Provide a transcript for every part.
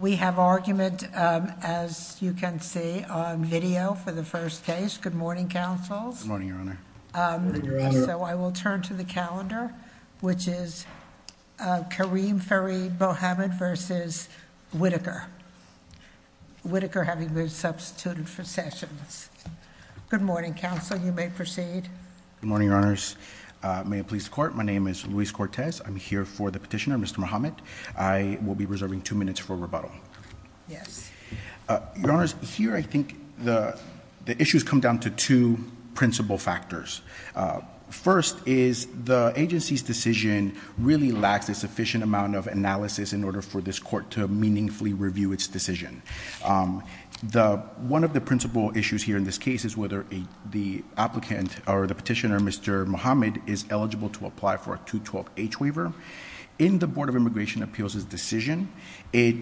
We have argument, as you can see, on video for the first case. Good morning, councils. Good morning, Your Honor. Good morning, Your Honor. So I will turn to the calendar, which is Kareem Fareed Mohammed versus Whitaker. Whitaker having been substituted for Sessions. Good morning, council. You may proceed. Good morning, Your Honors. May it please the court, my name is Luis Cortez. I'm here for the petitioner, Mr. Mohammed. I will be reserving two minutes for rebuttal. Yes. Your Honors, here I think the issues come down to two principle factors. First is the agency's decision really lacks a sufficient amount of analysis in order for this court to meaningfully review its decision. One of the principle issues here in this case is whether the applicant or the petitioner, Mr. Mohammed, is eligible to apply for a 212H waiver. In the Board of Immigration Appeals' decision, it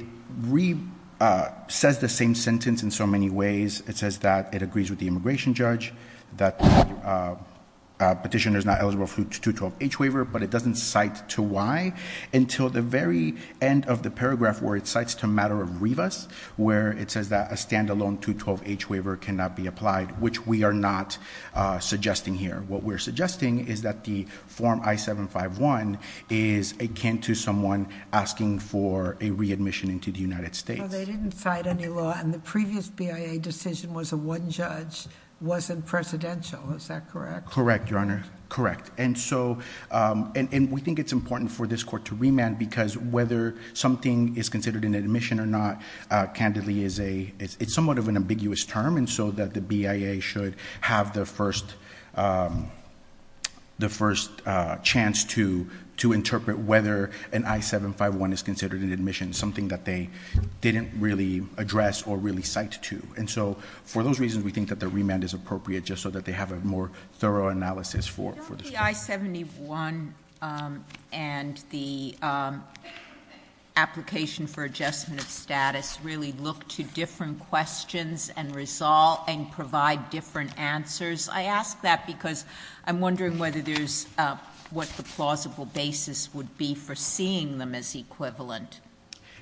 says the same sentence in so many ways. It says that it agrees with the immigration judge, that the petitioner is not eligible for the 212H waiver, but it doesn't cite to why until the very end of the paragraph where it cites to matter of Rivas. Where it says that a standalone 212H waiver cannot be applied, which we are not suggesting here. What we're suggesting is that the form I-751 is akin to someone asking for a readmission into the United States. They didn't cite any law, and the previous BIA decision was a one judge, wasn't presidential, is that correct? Correct, Your Honor, correct. And so, and we think it's important for this court to remand, because whether something is considered an admission or not, candidly, it's somewhat of an ambiguous term. And so that the BIA should have the first chance to interpret whether an I-751 is considered an admission. Something that they didn't really address or really cite to. And so, for those reasons, we think that the remand is appropriate, just so that they have a more thorough analysis for the- Don't the I-71 and the application for all and provide different answers? I ask that because I'm wondering whether there's what the plausible basis would be for seeing them as equivalent.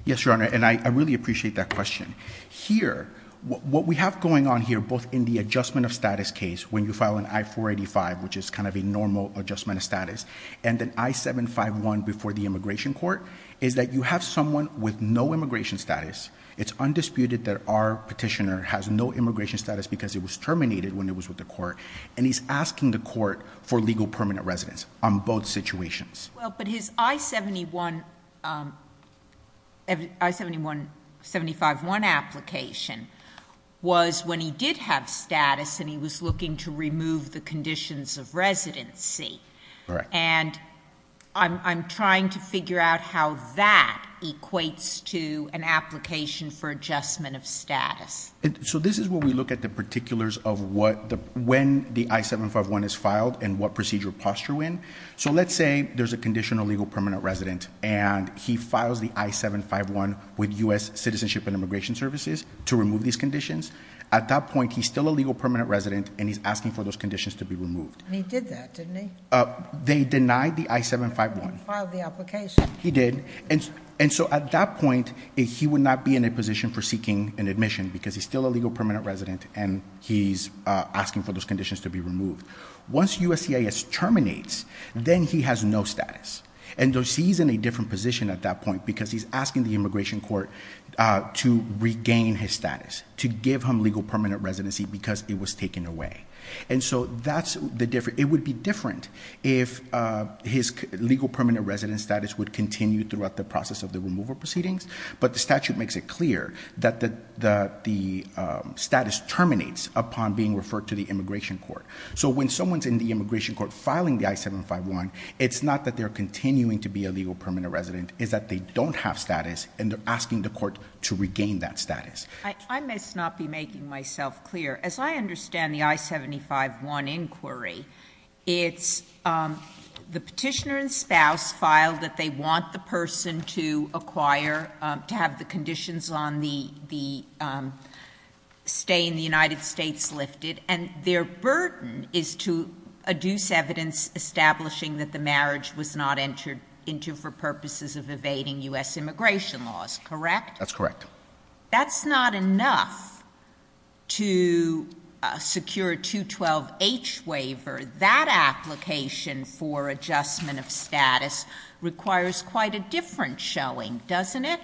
Yes, Your Honor, and I really appreciate that question. Here, what we have going on here, both in the adjustment of status case, when you file an I-485, which is kind of a normal adjustment of status, and an I-751 before the immigration court, is that you have someone with no immigration status, it's undisputed that our petitioner has no immigration status because it was terminated when it was with the court, and he's asking the court for legal permanent residence on both situations. Well, but his I-71, I-751 application was when he did have status and he was looking to remove the conditions of residency. Right. And I'm trying to figure out how that equates to an application for adjustment of status. So this is where we look at the particulars of when the I-751 is filed and what procedure posture when. So let's say there's a conditional legal permanent resident and he files the I-751 with US Citizenship and Immigration Services to remove these conditions. At that point, he's still a legal permanent resident and he's asking for those conditions to be removed. And he did that, didn't he? They denied the I-751. He filed the application. He did, and so at that point he would not be in a position for because he's still a legal permanent resident and he's asking for those conditions to be removed. Once USCIS terminates, then he has no status. And he's in a different position at that point because he's asking the immigration court to regain his status, to give him legal permanent residency because it was taken away. And so it would be different if his legal permanent resident status would continue throughout the process of the removal proceedings. But the statute makes it clear that the status terminates upon being referred to the immigration court. So when someone's in the immigration court filing the I-751, it's not that they're continuing to be a legal permanent resident. It's that they don't have status and they're asking the court to regain that status. I must not be making myself clear. As I understand the I-751 inquiry, it's the petitioner and to have the conditions on the stay in the United States lifted. And their burden is to adduce evidence establishing that the marriage was not entered into for purposes of evading US immigration laws, correct? That's correct. That's not enough to secure a 212H waiver. That application for adjustment of status requires quite a different showing, doesn't it?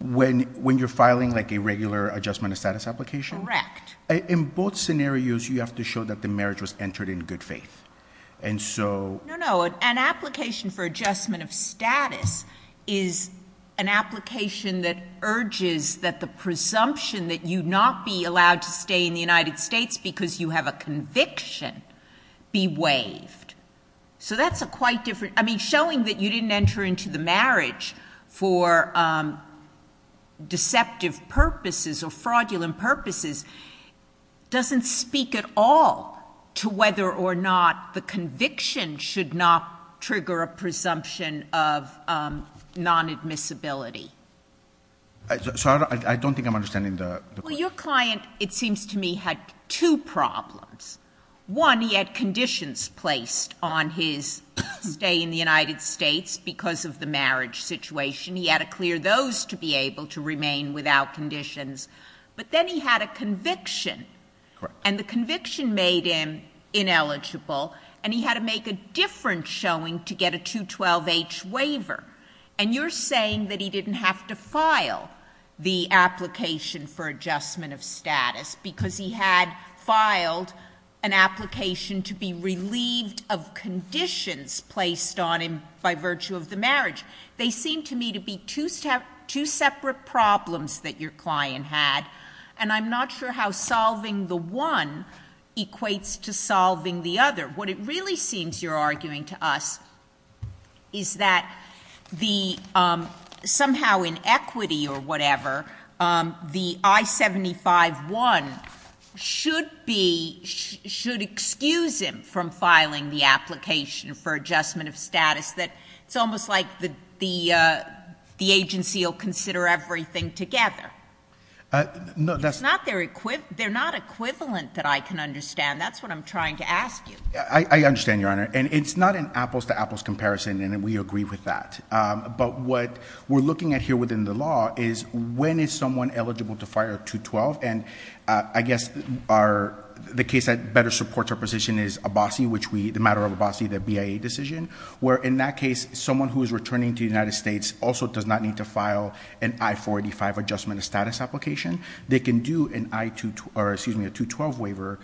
When you're filing a regular adjustment of status application? Correct. In both scenarios, you have to show that the marriage was entered in good faith. And so- No, no, an application for adjustment of status is an application that urges that the presumption that you'd not be allowed to stay in the United States because you have a conviction be waived. So that's a quite different, I mean, showing that you didn't enter into the marriage for deceptive purposes or fraudulent purposes doesn't speak at all to whether or not the conviction should not trigger a presumption of non-admissibility. Sorry, I don't think I'm understanding the question. Well, your client, it seems to me, had two problems. One, he had conditions placed on his stay in the United States because of the marriage situation. He had to clear those to be able to remain without conditions. But then he had a conviction. Correct. And the conviction made him ineligible. And he had to make a different showing to get a 212H waiver. And you're saying that he didn't have to file the application for adjustment of status because he had filed an application to be relieved of conditions placed on him by virtue of the marriage. They seem to me to be two separate problems that your client had. And I'm not sure how solving the one equates to solving the other. What it really seems you're arguing to us is that the somehow in equity or whatever, the I-75-1 should be, should excuse him from filing the application for adjustment of status. That it's almost like the agency will consider everything together. No, that's- They're not equivalent that I can understand. That's what I'm trying to ask you. I understand, Your Honor. And it's not an apples to apples comparison, and we agree with that. But what we're looking at here within the law is when is someone eligible to fire a 212? And I guess the case that better supports our position is Abbasi, which we, the matter of Abbasi, the BIA decision. Where in that case, someone who is returning to the United States also does not need to file an I-485 adjustment of status application. They can do an I-212, or excuse me, a 212 waiver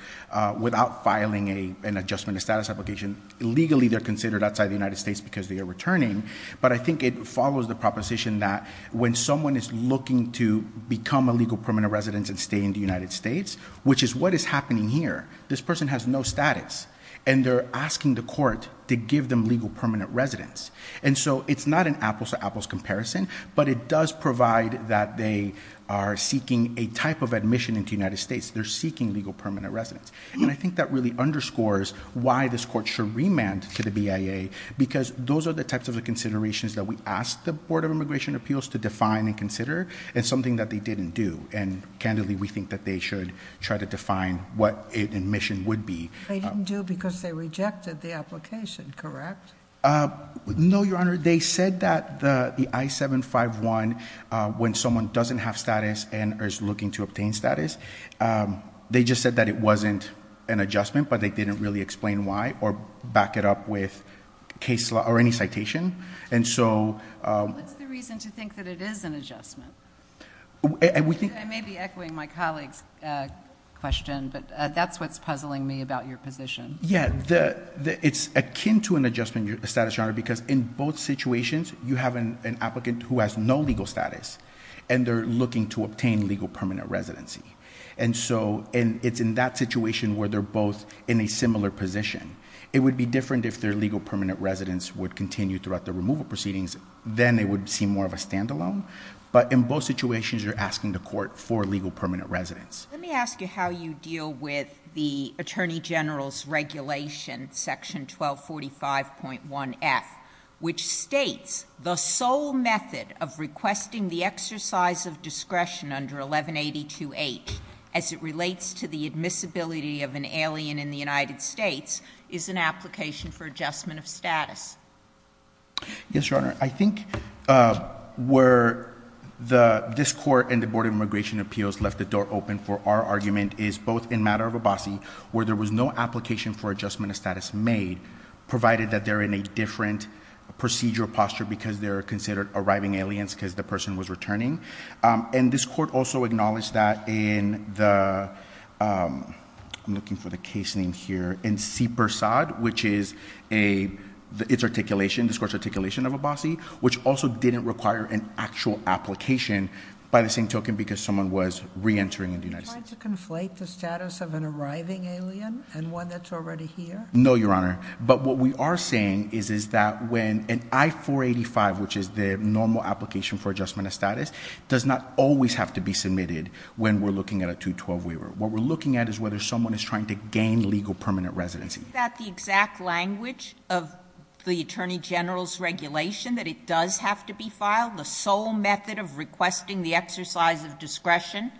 without filing an adjustment of status application. Legally, they're considered outside the United States because they are returning. But I think it follows the proposition that when someone is looking to become a legal permanent residence and stay in the United States, which is what is happening here, this person has no status. And they're asking the court to give them legal permanent residence. And so it's not an apples to apples comparison, but it does provide that they are seeking a type of admission into the United States. They're seeking legal permanent residence. And I think that really underscores why this court should remand to the BIA, because those are the types of considerations that we ask the Board of Immigration Appeals to define and consider. It's something that they didn't do, and candidly, we think that they should try to define what an admission would be. They didn't do it because they rejected the application, correct? No, Your Honor. They said that the I-751, when someone doesn't have status and is looking to obtain status, they just said that it wasn't an adjustment, but they didn't really explain why or back it up with case law or any citation. And so- I may be echoing my colleague's question, but that's what's puzzling me about your position. Yeah, it's akin to an adjustment status, Your Honor, because in both situations, you have an applicant who has no legal status, and they're looking to obtain legal permanent residency. And so, it's in that situation where they're both in a similar position. It would be different if their legal permanent residence would continue throughout the removal proceedings, then it would seem more of a standalone. But in both situations, you're asking the court for legal permanent residence. Let me ask you how you deal with the Attorney General's regulation, section 1245.1F, which states the sole method of requesting the exercise of discretion under 1182H, as it relates to the admissibility of an alien in the United States, is an application for adjustment of status. Yes, Your Honor. I think where this court and the Board of Immigration Appeals left the door open for our argument is both in matter of Abbasi, where there was no application for adjustment of status made, provided that they're in a different procedural posture because they're considered arriving aliens because the person was returning. And this court also acknowledged that in the, I'm looking for the case name here, in C Persaud, which is a, it's articulation, this court's articulation of Abbasi, which also didn't require an actual application by the same token because someone was reentering in the United States. Trying to conflate the status of an arriving alien and one that's already here? No, Your Honor. But what we are saying is that when an I-485, which is the normal application for adjustment of status, does not always have to be submitted when we're looking at a 212 waiver. What we're looking at is whether someone is trying to gain legal permanent residency. Is that the exact language of the Attorney General's regulation that it does have to be filed? The sole method of requesting the exercise of discretion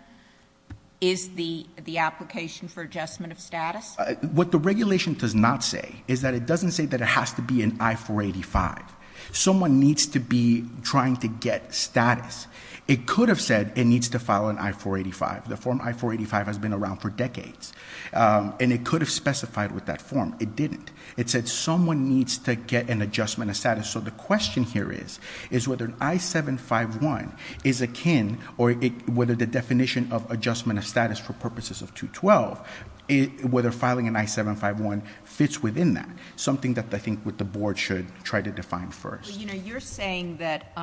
is the application for adjustment of status? What the regulation does not say is that it doesn't say that it has to be an I-485. Someone needs to be trying to get status. It could have said it needs to file an I-485. The form I-485 has been around for decades, and it could have specified with that form. It didn't. It said someone needs to get an adjustment of status. So the question here is, is whether an I-751 is akin or whether the definition of adjustment of status for purposes of 212, whether filing an I-751 fits within that. Something that I think what the board should try to define first. You're saying that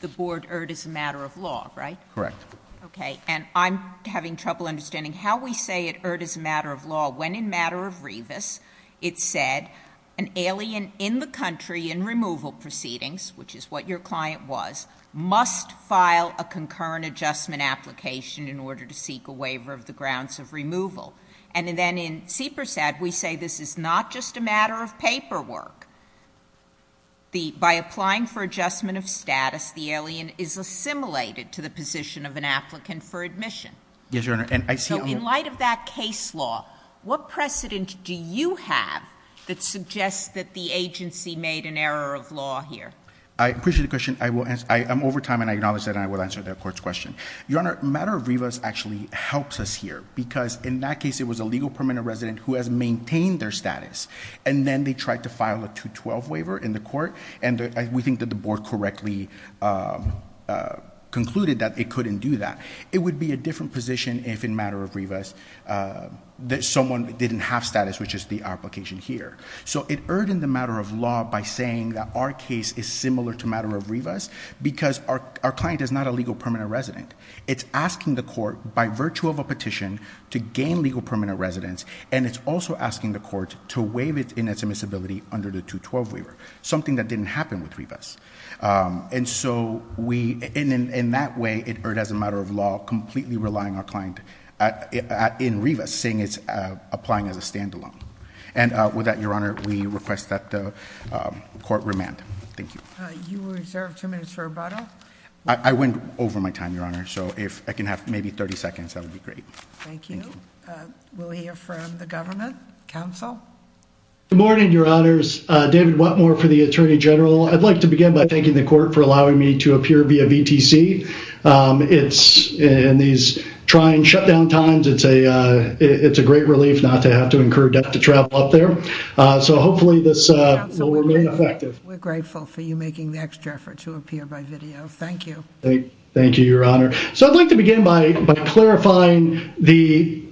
the board heard is a matter of law, right? Correct. Okay, and I'm having trouble understanding how we say it heard as a matter of law. When in matter of Revis, it said an alien in the country in removal proceedings, which is what your client was, must file a concurrent adjustment application in order to seek a waiver of the grounds of removal. And then in CPRSAD, we say this is not just a matter of paperwork. By applying for adjustment of status, the alien is assimilated to the position of an applicant for admission. Yes, Your Honor, and I see- So in light of that case law, what precedent do you have that suggests that the agency made an error of law here? I appreciate the question. I'm over time and I acknowledge that and I will answer the court's question. Your Honor, matter of Revis actually helps us here because in that case it was a legal permanent resident who has maintained their status. And then they tried to file a 212 waiver in the court. And we think that the board correctly concluded that it couldn't do that. It would be a different position if in matter of Revis, that someone didn't have status, which is the application here. So it earned in the matter of law by saying that our case is similar to matter of Revis because our client is not a legal permanent resident. It's asking the court by virtue of a petition to gain legal permanent residence. And it's also asking the court to waive it in its admissibility under the 212 waiver, something that didn't happen with Revis. And so, in that way, it earned as a matter of law completely relying our client in Revis, saying it's applying as a standalone. And with that, Your Honor, we request that the court remand. Thank you. You were reserved two minutes for rebuttal. I went over my time, Your Honor, so if I can have maybe 30 seconds, that would be great. Thank you. We'll hear from the government. Counsel? Good morning, Your Honors. David Whatmore for the Attorney General. I'd like to begin by thanking the court for allowing me to appear via VTC. It's, in these trying shutdown times, it's a great relief not to have to incur debt to travel up there. So hopefully this will remain effective. We're grateful for you making the extra effort to appear by video. Thank you. Thank you, Your Honor. So I'd like to begin by clarifying the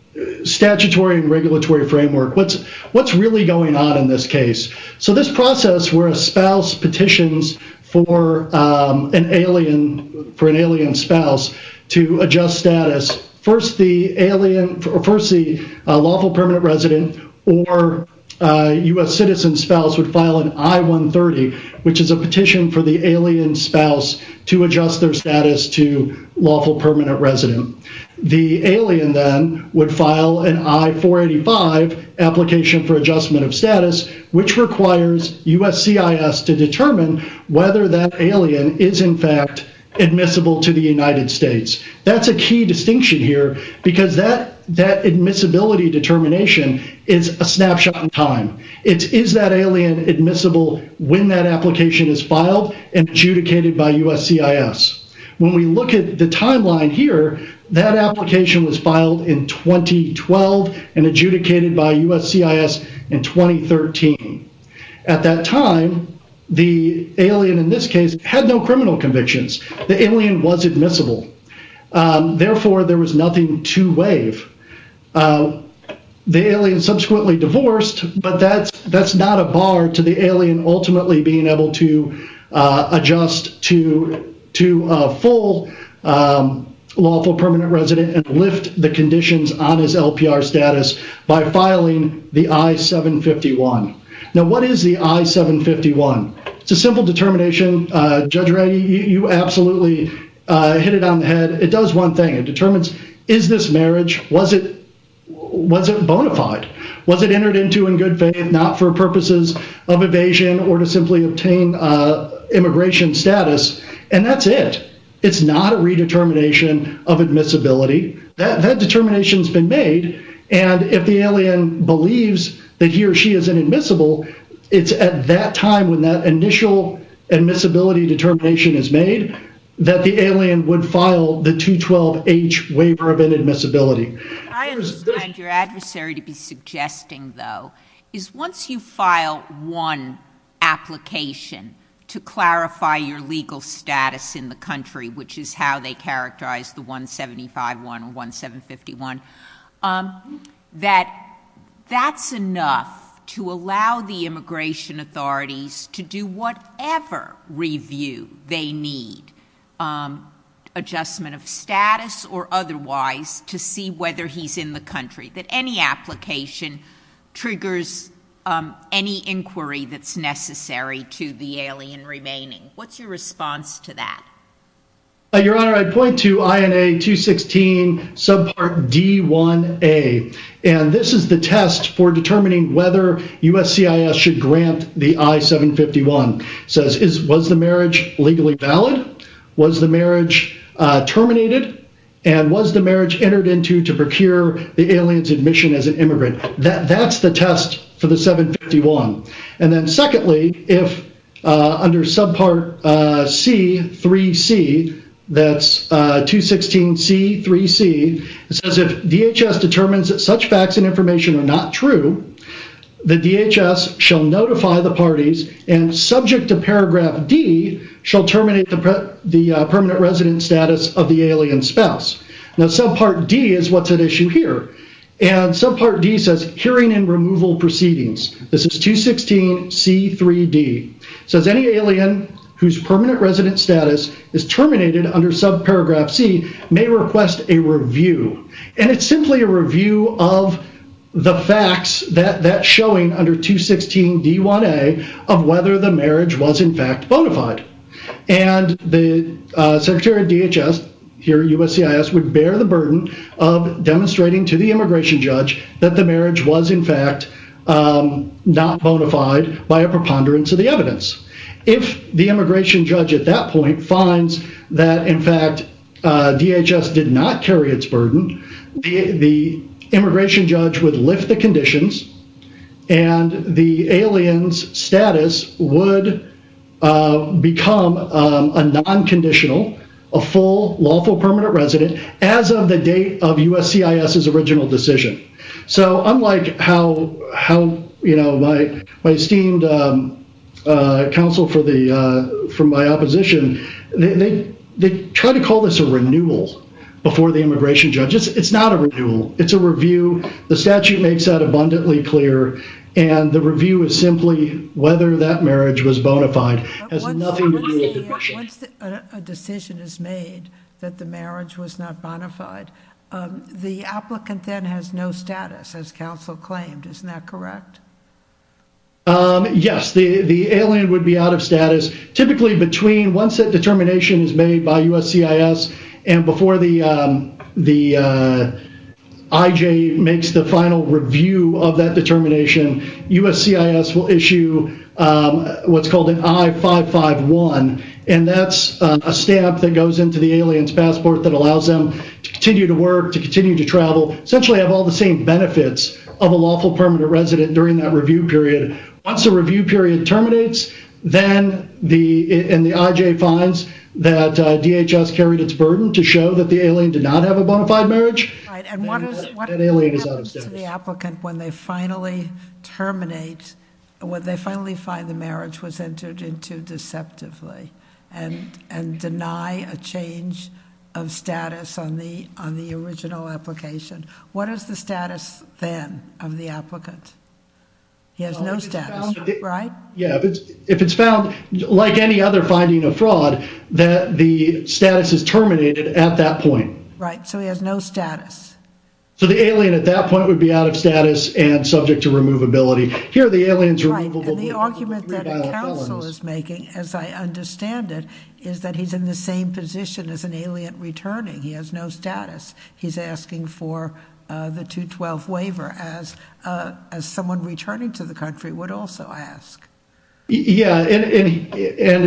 statutory and regulatory framework. What's really going on in this case? So this process where a spouse petitions for an alien spouse to adjust status. First, the lawful permanent resident or U.S. citizen spouse would file an I-130, which is a petition for the alien spouse to adjust their status to lawful permanent resident. The alien then would file an I-485 application for adjustment of status, which requires USCIS to determine whether that alien is in fact admissible to the United States. That's a key distinction here because that admissibility determination is a snapshot in time. It is that alien admissible when that application is filed and adjudicated by USCIS. When we look at the timeline here, that application was filed in 2012 and adjudicated by USCIS in 2013. At that time, the alien in this case had no criminal convictions. The alien was admissible. Therefore, there was nothing to waive. The alien subsequently divorced, but that's not a bar to the alien ultimately being able to adjust to a full lawful permanent resident and lift the conditions on his LPR status by filing the I-751. Now, what is the I-751? It's a simple determination. Judge Rady, you absolutely hit it on the head. It does one thing. It determines, is this marriage? Was it bona fide? Was it entered into in good faith not for purposes of evasion or to simply obtain immigration status? And that's it. It's not a redetermination of admissibility. That determination has been made, and if the alien believes that he or she is inadmissible, it's at that time when that initial admissibility determination is made that the alien would file the 212H waiver of inadmissibility. I understand your adversary to be suggesting, though, is once you file one application to clarify your legal status in the country, which is how they characterize the I-751 or I-751, that that's enough to allow the immigration authorities to do whatever review they need, adjustment of status or otherwise, to see whether he's in the country, that any application triggers any inquiry that's necessary to the alien remaining. What's your response to that? Your Honor, I point to INA 216 subpart D1A, and this is the test for determining whether USCIS should grant the I-751. Says, was the marriage legally valid? Was the marriage terminated? And was the marriage entered into to procure the alien's admission as an immigrant? That's the test for the 751. And then secondly, if under subpart C3C, that's 216C3C, it says if DHS determines that such facts and information are not true, the DHS shall notify the parties and subject to paragraph D, shall terminate the permanent resident status of the alien spouse. Now subpart D is what's at issue here. And subpart D says hearing and removal proceedings. This is 216C3D. So as any alien whose permanent resident status is terminated under subparagraph C, may request a review. And it's simply a review of the facts that that's showing under 216D1A of whether the marriage was in fact bona fide. And the Secretary of DHS here at USCIS would bear the burden of demonstrating to the immigration judge that the marriage was in fact not bona fide by a preponderance of the evidence. If the immigration judge at that point finds that in fact DHS did not carry its burden, the immigration judge would lift the conditions. And the alien's status would become a non-conditional, a full lawful permanent as of the date of USCIS's original decision. So unlike how my esteemed counsel from my opposition, they try to call this a renewal before the immigration judge. It's not a renewal. It's a review. The statute makes that abundantly clear. And the review is simply whether that marriage was bona fide. Once a decision is made that the marriage was not bona fide, the applicant then has no status as counsel claimed. Isn't that correct? Yes, the alien would be out of status. Typically between once that determination is made by USCIS and before the IJ makes the final review of that determination, USCIS will issue what's called an I-551. And that's a stamp that goes into the alien's passport that allows them to continue to work, to continue to travel, essentially have all the same benefits of a lawful permanent resident during that review period. Once the review period terminates, then the IJ finds that DHS carried its burden to show that the alien did not have a bona fide marriage. And what happens to the applicant when they finally terminate, when they finally find the marriage was entered into deceptively and deny a change of status on the original application? What is the status then of the applicant? He has no status, right? Yeah, if it's found, like any other finding of fraud, that the status is terminated at that point. Right, so he has no status. So the alien at that point would be out of status and subject to removability. Here, the alien's removable. And the argument that counsel is making, as I understand it, is that he's in the same position as an alien returning. He has no status. He's asking for the 212 waiver as someone returning to the country would also ask. Yeah, and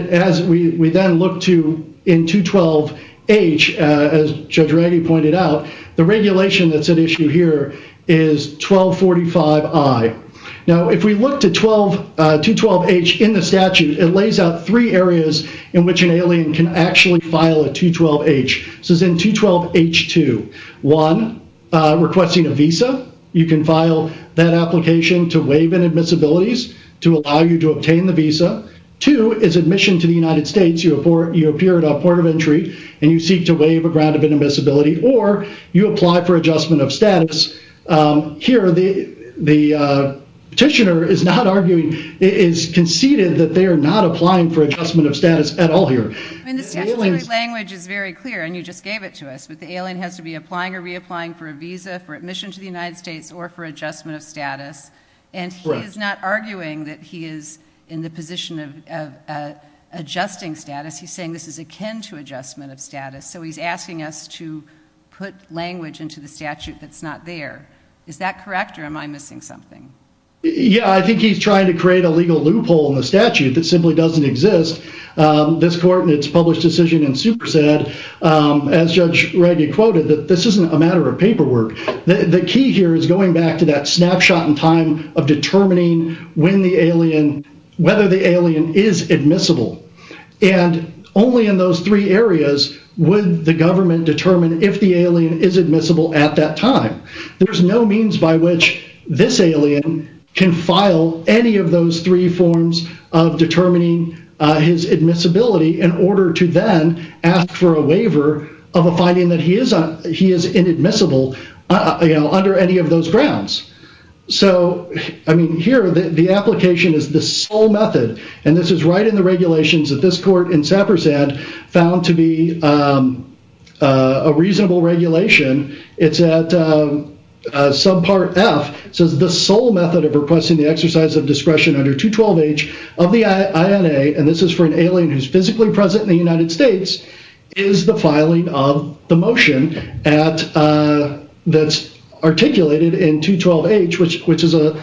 as we then look to in 212-H, as Judge Reggie pointed out, the regulation that's at issue here is 1245-I. Now, if we look to 212-H in the statute, it lays out three areas in which an alien can actually file a 212-H. This is in 212-H-2. One, requesting a visa. You can file that application to waive inadmissibilities to allow you to obtain the visa. Two, is admission to the United States. You appear at a port of entry and you seek to waive a grant of inadmissibility or you apply for adjustment of status. Here, the petitioner is not arguing, is conceded that they are not applying for adjustment of status at all here. And the statutory language is very clear, and you just gave it to us, but the alien has to be applying or reapplying for a visa for admission to the United States or for adjustment of status. And he is not arguing that he is in the position of adjusting status. He's saying this is akin to adjustment of status. So he's asking us to put language into the statute that's not there. Is that correct or am I missing something? Yeah, I think he's trying to create a legal loophole in the statute that simply doesn't exist. This court in its published decision in Super said, the key here is going back to that snapshot in time of determining whether the alien is admissible. And only in those three areas would the government determine if the alien is admissible at that time. There's no means by which this alien can file any of those three forms of determining his admissibility in order to then ask for a waiver of a finding that he is inadmissible under any of those grounds. So, I mean, here the application is the sole method, and this is right in the regulations that this court in Saper said found to be a reasonable regulation. It's at subpart F, says the sole method of requesting the exercise of discretion under 212H of the INA, and this is for an alien who's physically present in the United States, is the filing of the motion that's articulated in 212H, which is an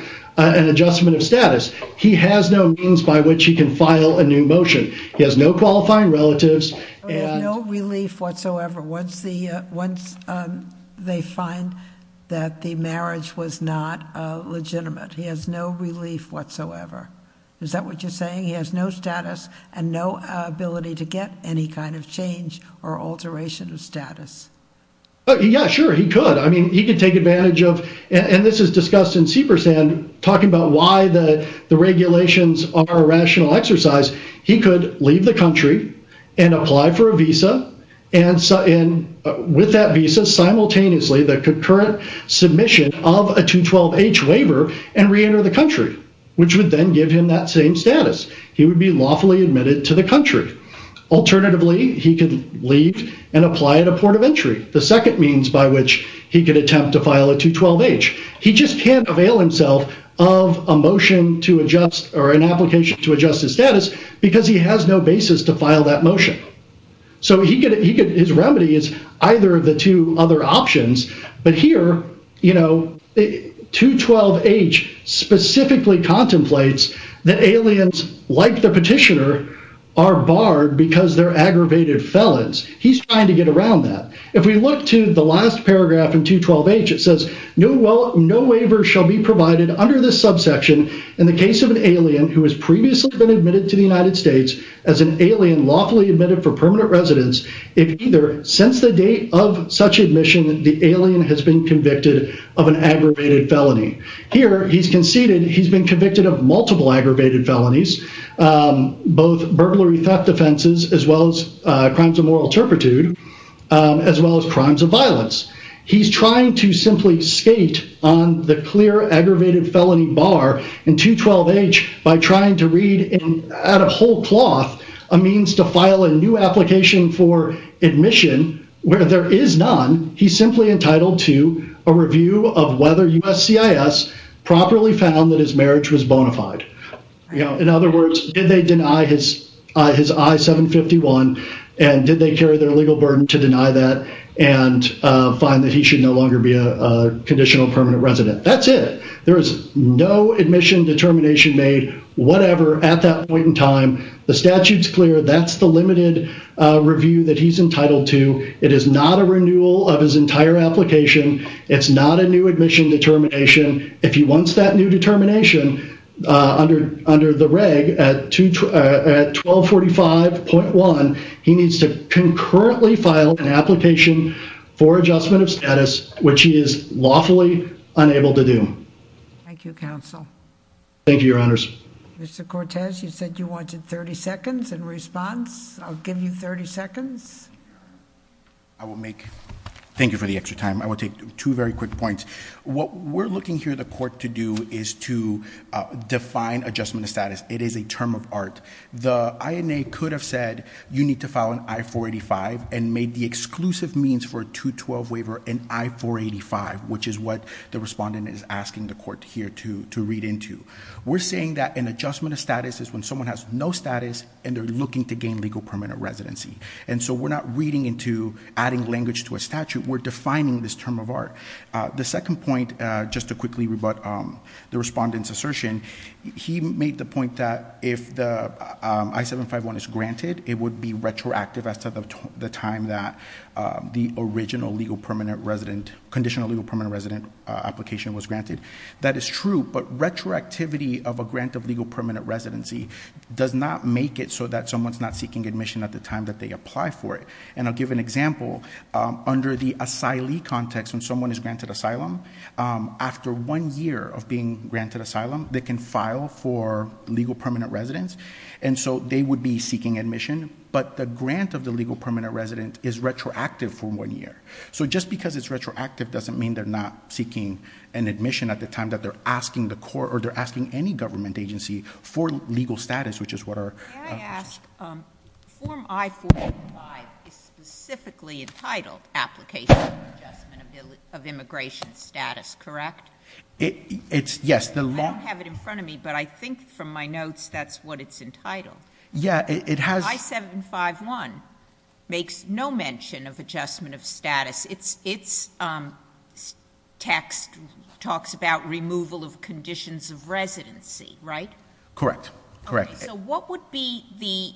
adjustment of status. He has no means by which he can file a new motion. He has no qualifying relatives. There's no relief whatsoever once they find that the marriage was not legitimate. Is that what you're saying? He has no status and no ability to get any kind of change or alteration of status? Yeah, sure, he could. I mean, he could take advantage of, and this is discussed in Saper's end, talking about why the regulations are a rational exercise. He could leave the country and apply for a visa, and with that visa, simultaneously the concurrent submission of a 212H waiver and reenter the country, which would then give him that same status. He would be lawfully admitted to the country. Alternatively, he could leave and apply at a port of entry, the second means by which he could attempt to file a 212H. He just can't avail himself of a motion to adjust or an application to adjust his status because he has no basis to file that motion. So his remedy is either of the two other options, but here, 212H specifically contemplates that aliens, like the petitioner, are barred because they're aggravated felons. He's trying to get around that. If we look to the last paragraph in 212H, it says, no waiver shall be provided under this subsection in the case of an alien who has previously been admitted to the United States as an alien lawfully admitted for permanent residence. If either, since the date of such admission, the alien has been convicted of an aggravated felony. Here, he's conceded he's been convicted of multiple aggravated felonies, both burglary theft defenses, as well as crimes of moral turpitude, as well as crimes of violence. He's trying to simply skate on the clear aggravated felony bar in 212H by trying to read, out of whole cloth, a means to file a new application for admission where there is none. He's simply entitled to a review of whether USCIS properly found that his marriage was bona fide. In other words, did they deny his I-751 and did they carry their legal burden to deny that and find that he should no longer be a conditional permanent resident? That's it. There is no admission determination made, whatever, at that point in time. The statute's clear. That's the limited review that he's entitled to. It is not a renewal of his entire application. It's not a new admission determination. If he wants that new determination under the reg at 1245.1, he needs to concurrently file an application for adjustment of status, which he is lawfully unable to do. Thank you, counsel. Thank you, your honors. Mr. Cortez, you said you wanted 30 seconds in response. I'll give you 30 seconds. I will make, thank you for the extra time. I will take two very quick points. What we're looking here the court to do is to define adjustment of status. It is a term of art. The INA could have said you need to file an I-485 and made the exclusive means for a 212 waiver an I-485, which is what the respondent is asking the court here to read into. We're saying that an adjustment of status is when someone has no status and they're looking to gain legal permanent residency. And so we're not reading into adding language to a statute. We're defining this term of art. The second point, just to quickly rebut the respondent's assertion, he made the point that if the I-751 is granted, it would be retroactive as to the time that the original legal permanent resident, conditional legal permanent resident application was granted. That is true, but retroactivity of a grant of legal permanent residency does not make it so that someone's not seeking admission at the time that they apply for it. And I'll give an example. Under the asylee context, when someone is granted asylum, after one year of being granted asylum, they can file for legal permanent residence. And so they would be seeking admission. But the grant of the legal permanent resident is retroactive for one year. So just because it's retroactive doesn't mean they're not seeking an admission at the time that they're asking the court or they're asking any government agency for legal status, which is what our- May I ask, form I-455 is specifically entitled application of adjustment of immigration status, correct? It's, yes. I don't have it in front of me, but I think from my notes, that's what it's entitled. Yeah, it has- of adjustment of status. Its text talks about removal of conditions of residency, right? Correct, correct. So what would be the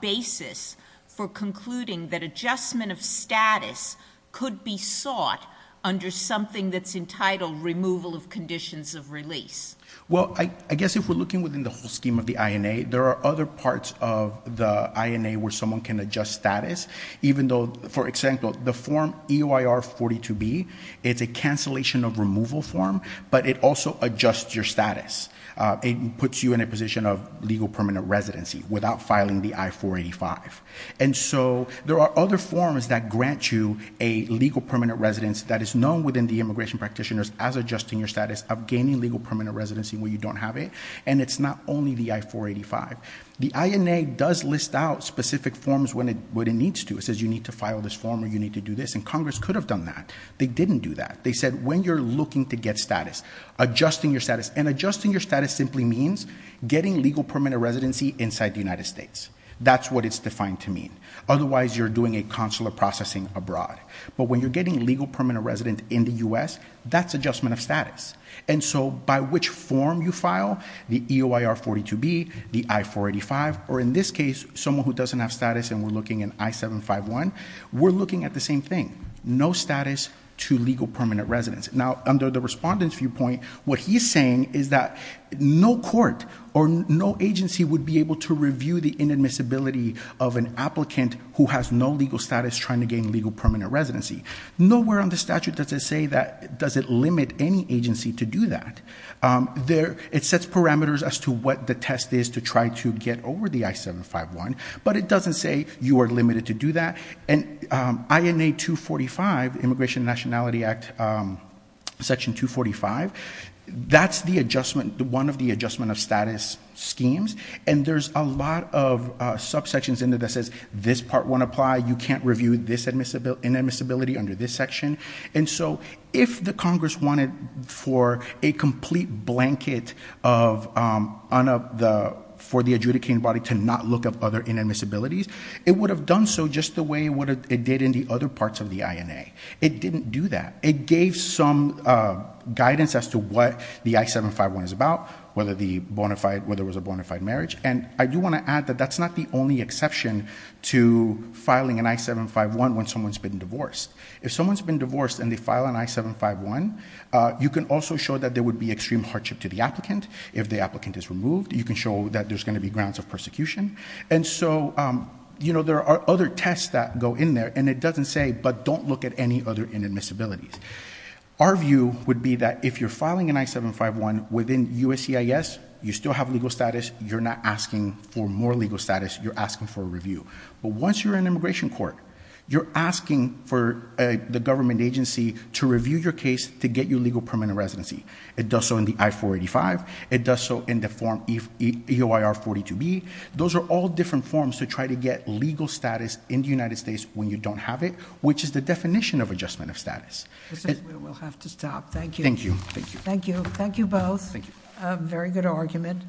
basis for concluding that adjustment of status could be sought under something that's entitled removal of conditions of release? Well, I guess if we're looking within the whole scheme of the INA, there are other parts of the INA where someone can adjust status, even though, for example, the form EOIR-42B, it's a cancellation of removal form, but it also adjusts your status. It puts you in a position of legal permanent residency without filing the I-485. And so there are other forms that grant you a legal permanent residence that is known within the immigration practitioners as adjusting your status of gaining legal permanent residency where you don't have it. And it's not only the I-485. The INA does list out specific forms when it needs to. It says you need to file this form or you need to do this, and Congress could have done that. They didn't do that. They said when you're looking to get status, adjusting your status. And adjusting your status simply means getting legal permanent residency inside the United States. That's what it's defined to mean. Otherwise, you're doing a consular processing abroad. But when you're getting legal permanent residence in the US, that's adjustment of status. And so by which form you file, the EOIR-42B, the I-485, or in this case, someone who doesn't have status and we're looking at I-751, we're looking at the same thing. No status to legal permanent residence. Now, under the respondent's viewpoint, what he's saying is that no court or no agency would be able to review the inadmissibility of an applicant who has no legal status trying to gain legal permanent residency. Nowhere on the statute does it limit any agency to do that. It sets parameters as to what the test is to try to get over the I-751. But it doesn't say you are limited to do that. And INA-245, Immigration and Nationality Act Section 245, that's one of the adjustment of status schemes. And there's a lot of subsections in there that says this part won't apply. You can't review this inadmissibility under this section. And so if the Congress wanted for a complete blanket for the adjudicating body to not look up other inadmissibilities, it would have done so just the way it did in the other parts of the INA. It didn't do that. It gave some guidance as to what the I-751 is about, whether there was a bona fide marriage. And I do want to add that that's not the only exception to filing an I-751 when someone's been divorced. If someone's been divorced and they file an I-751, you can also show that there would be extreme hardship to the applicant. If the applicant is removed, you can show that there's going to be grounds of persecution. And so there are other tests that go in there. And it doesn't say, but don't look at any other inadmissibilities. Our view would be that if you're filing an I-751 within USCIS, you still have legal status. You're not asking for more legal status. You're asking for a review. But once you're in immigration court, you're asking for the government agency to review your case to get you legal permanent residency. It does so in the I-485. It does so in the form EOIR-42B. Those are all different forms to try to get legal status in the United States when you don't have it, which is the definition of adjustment of status. This is where we'll have to stop. Thank you. Thank you. Thank you. Thank you. Thank you both. Thank you. A very good argument.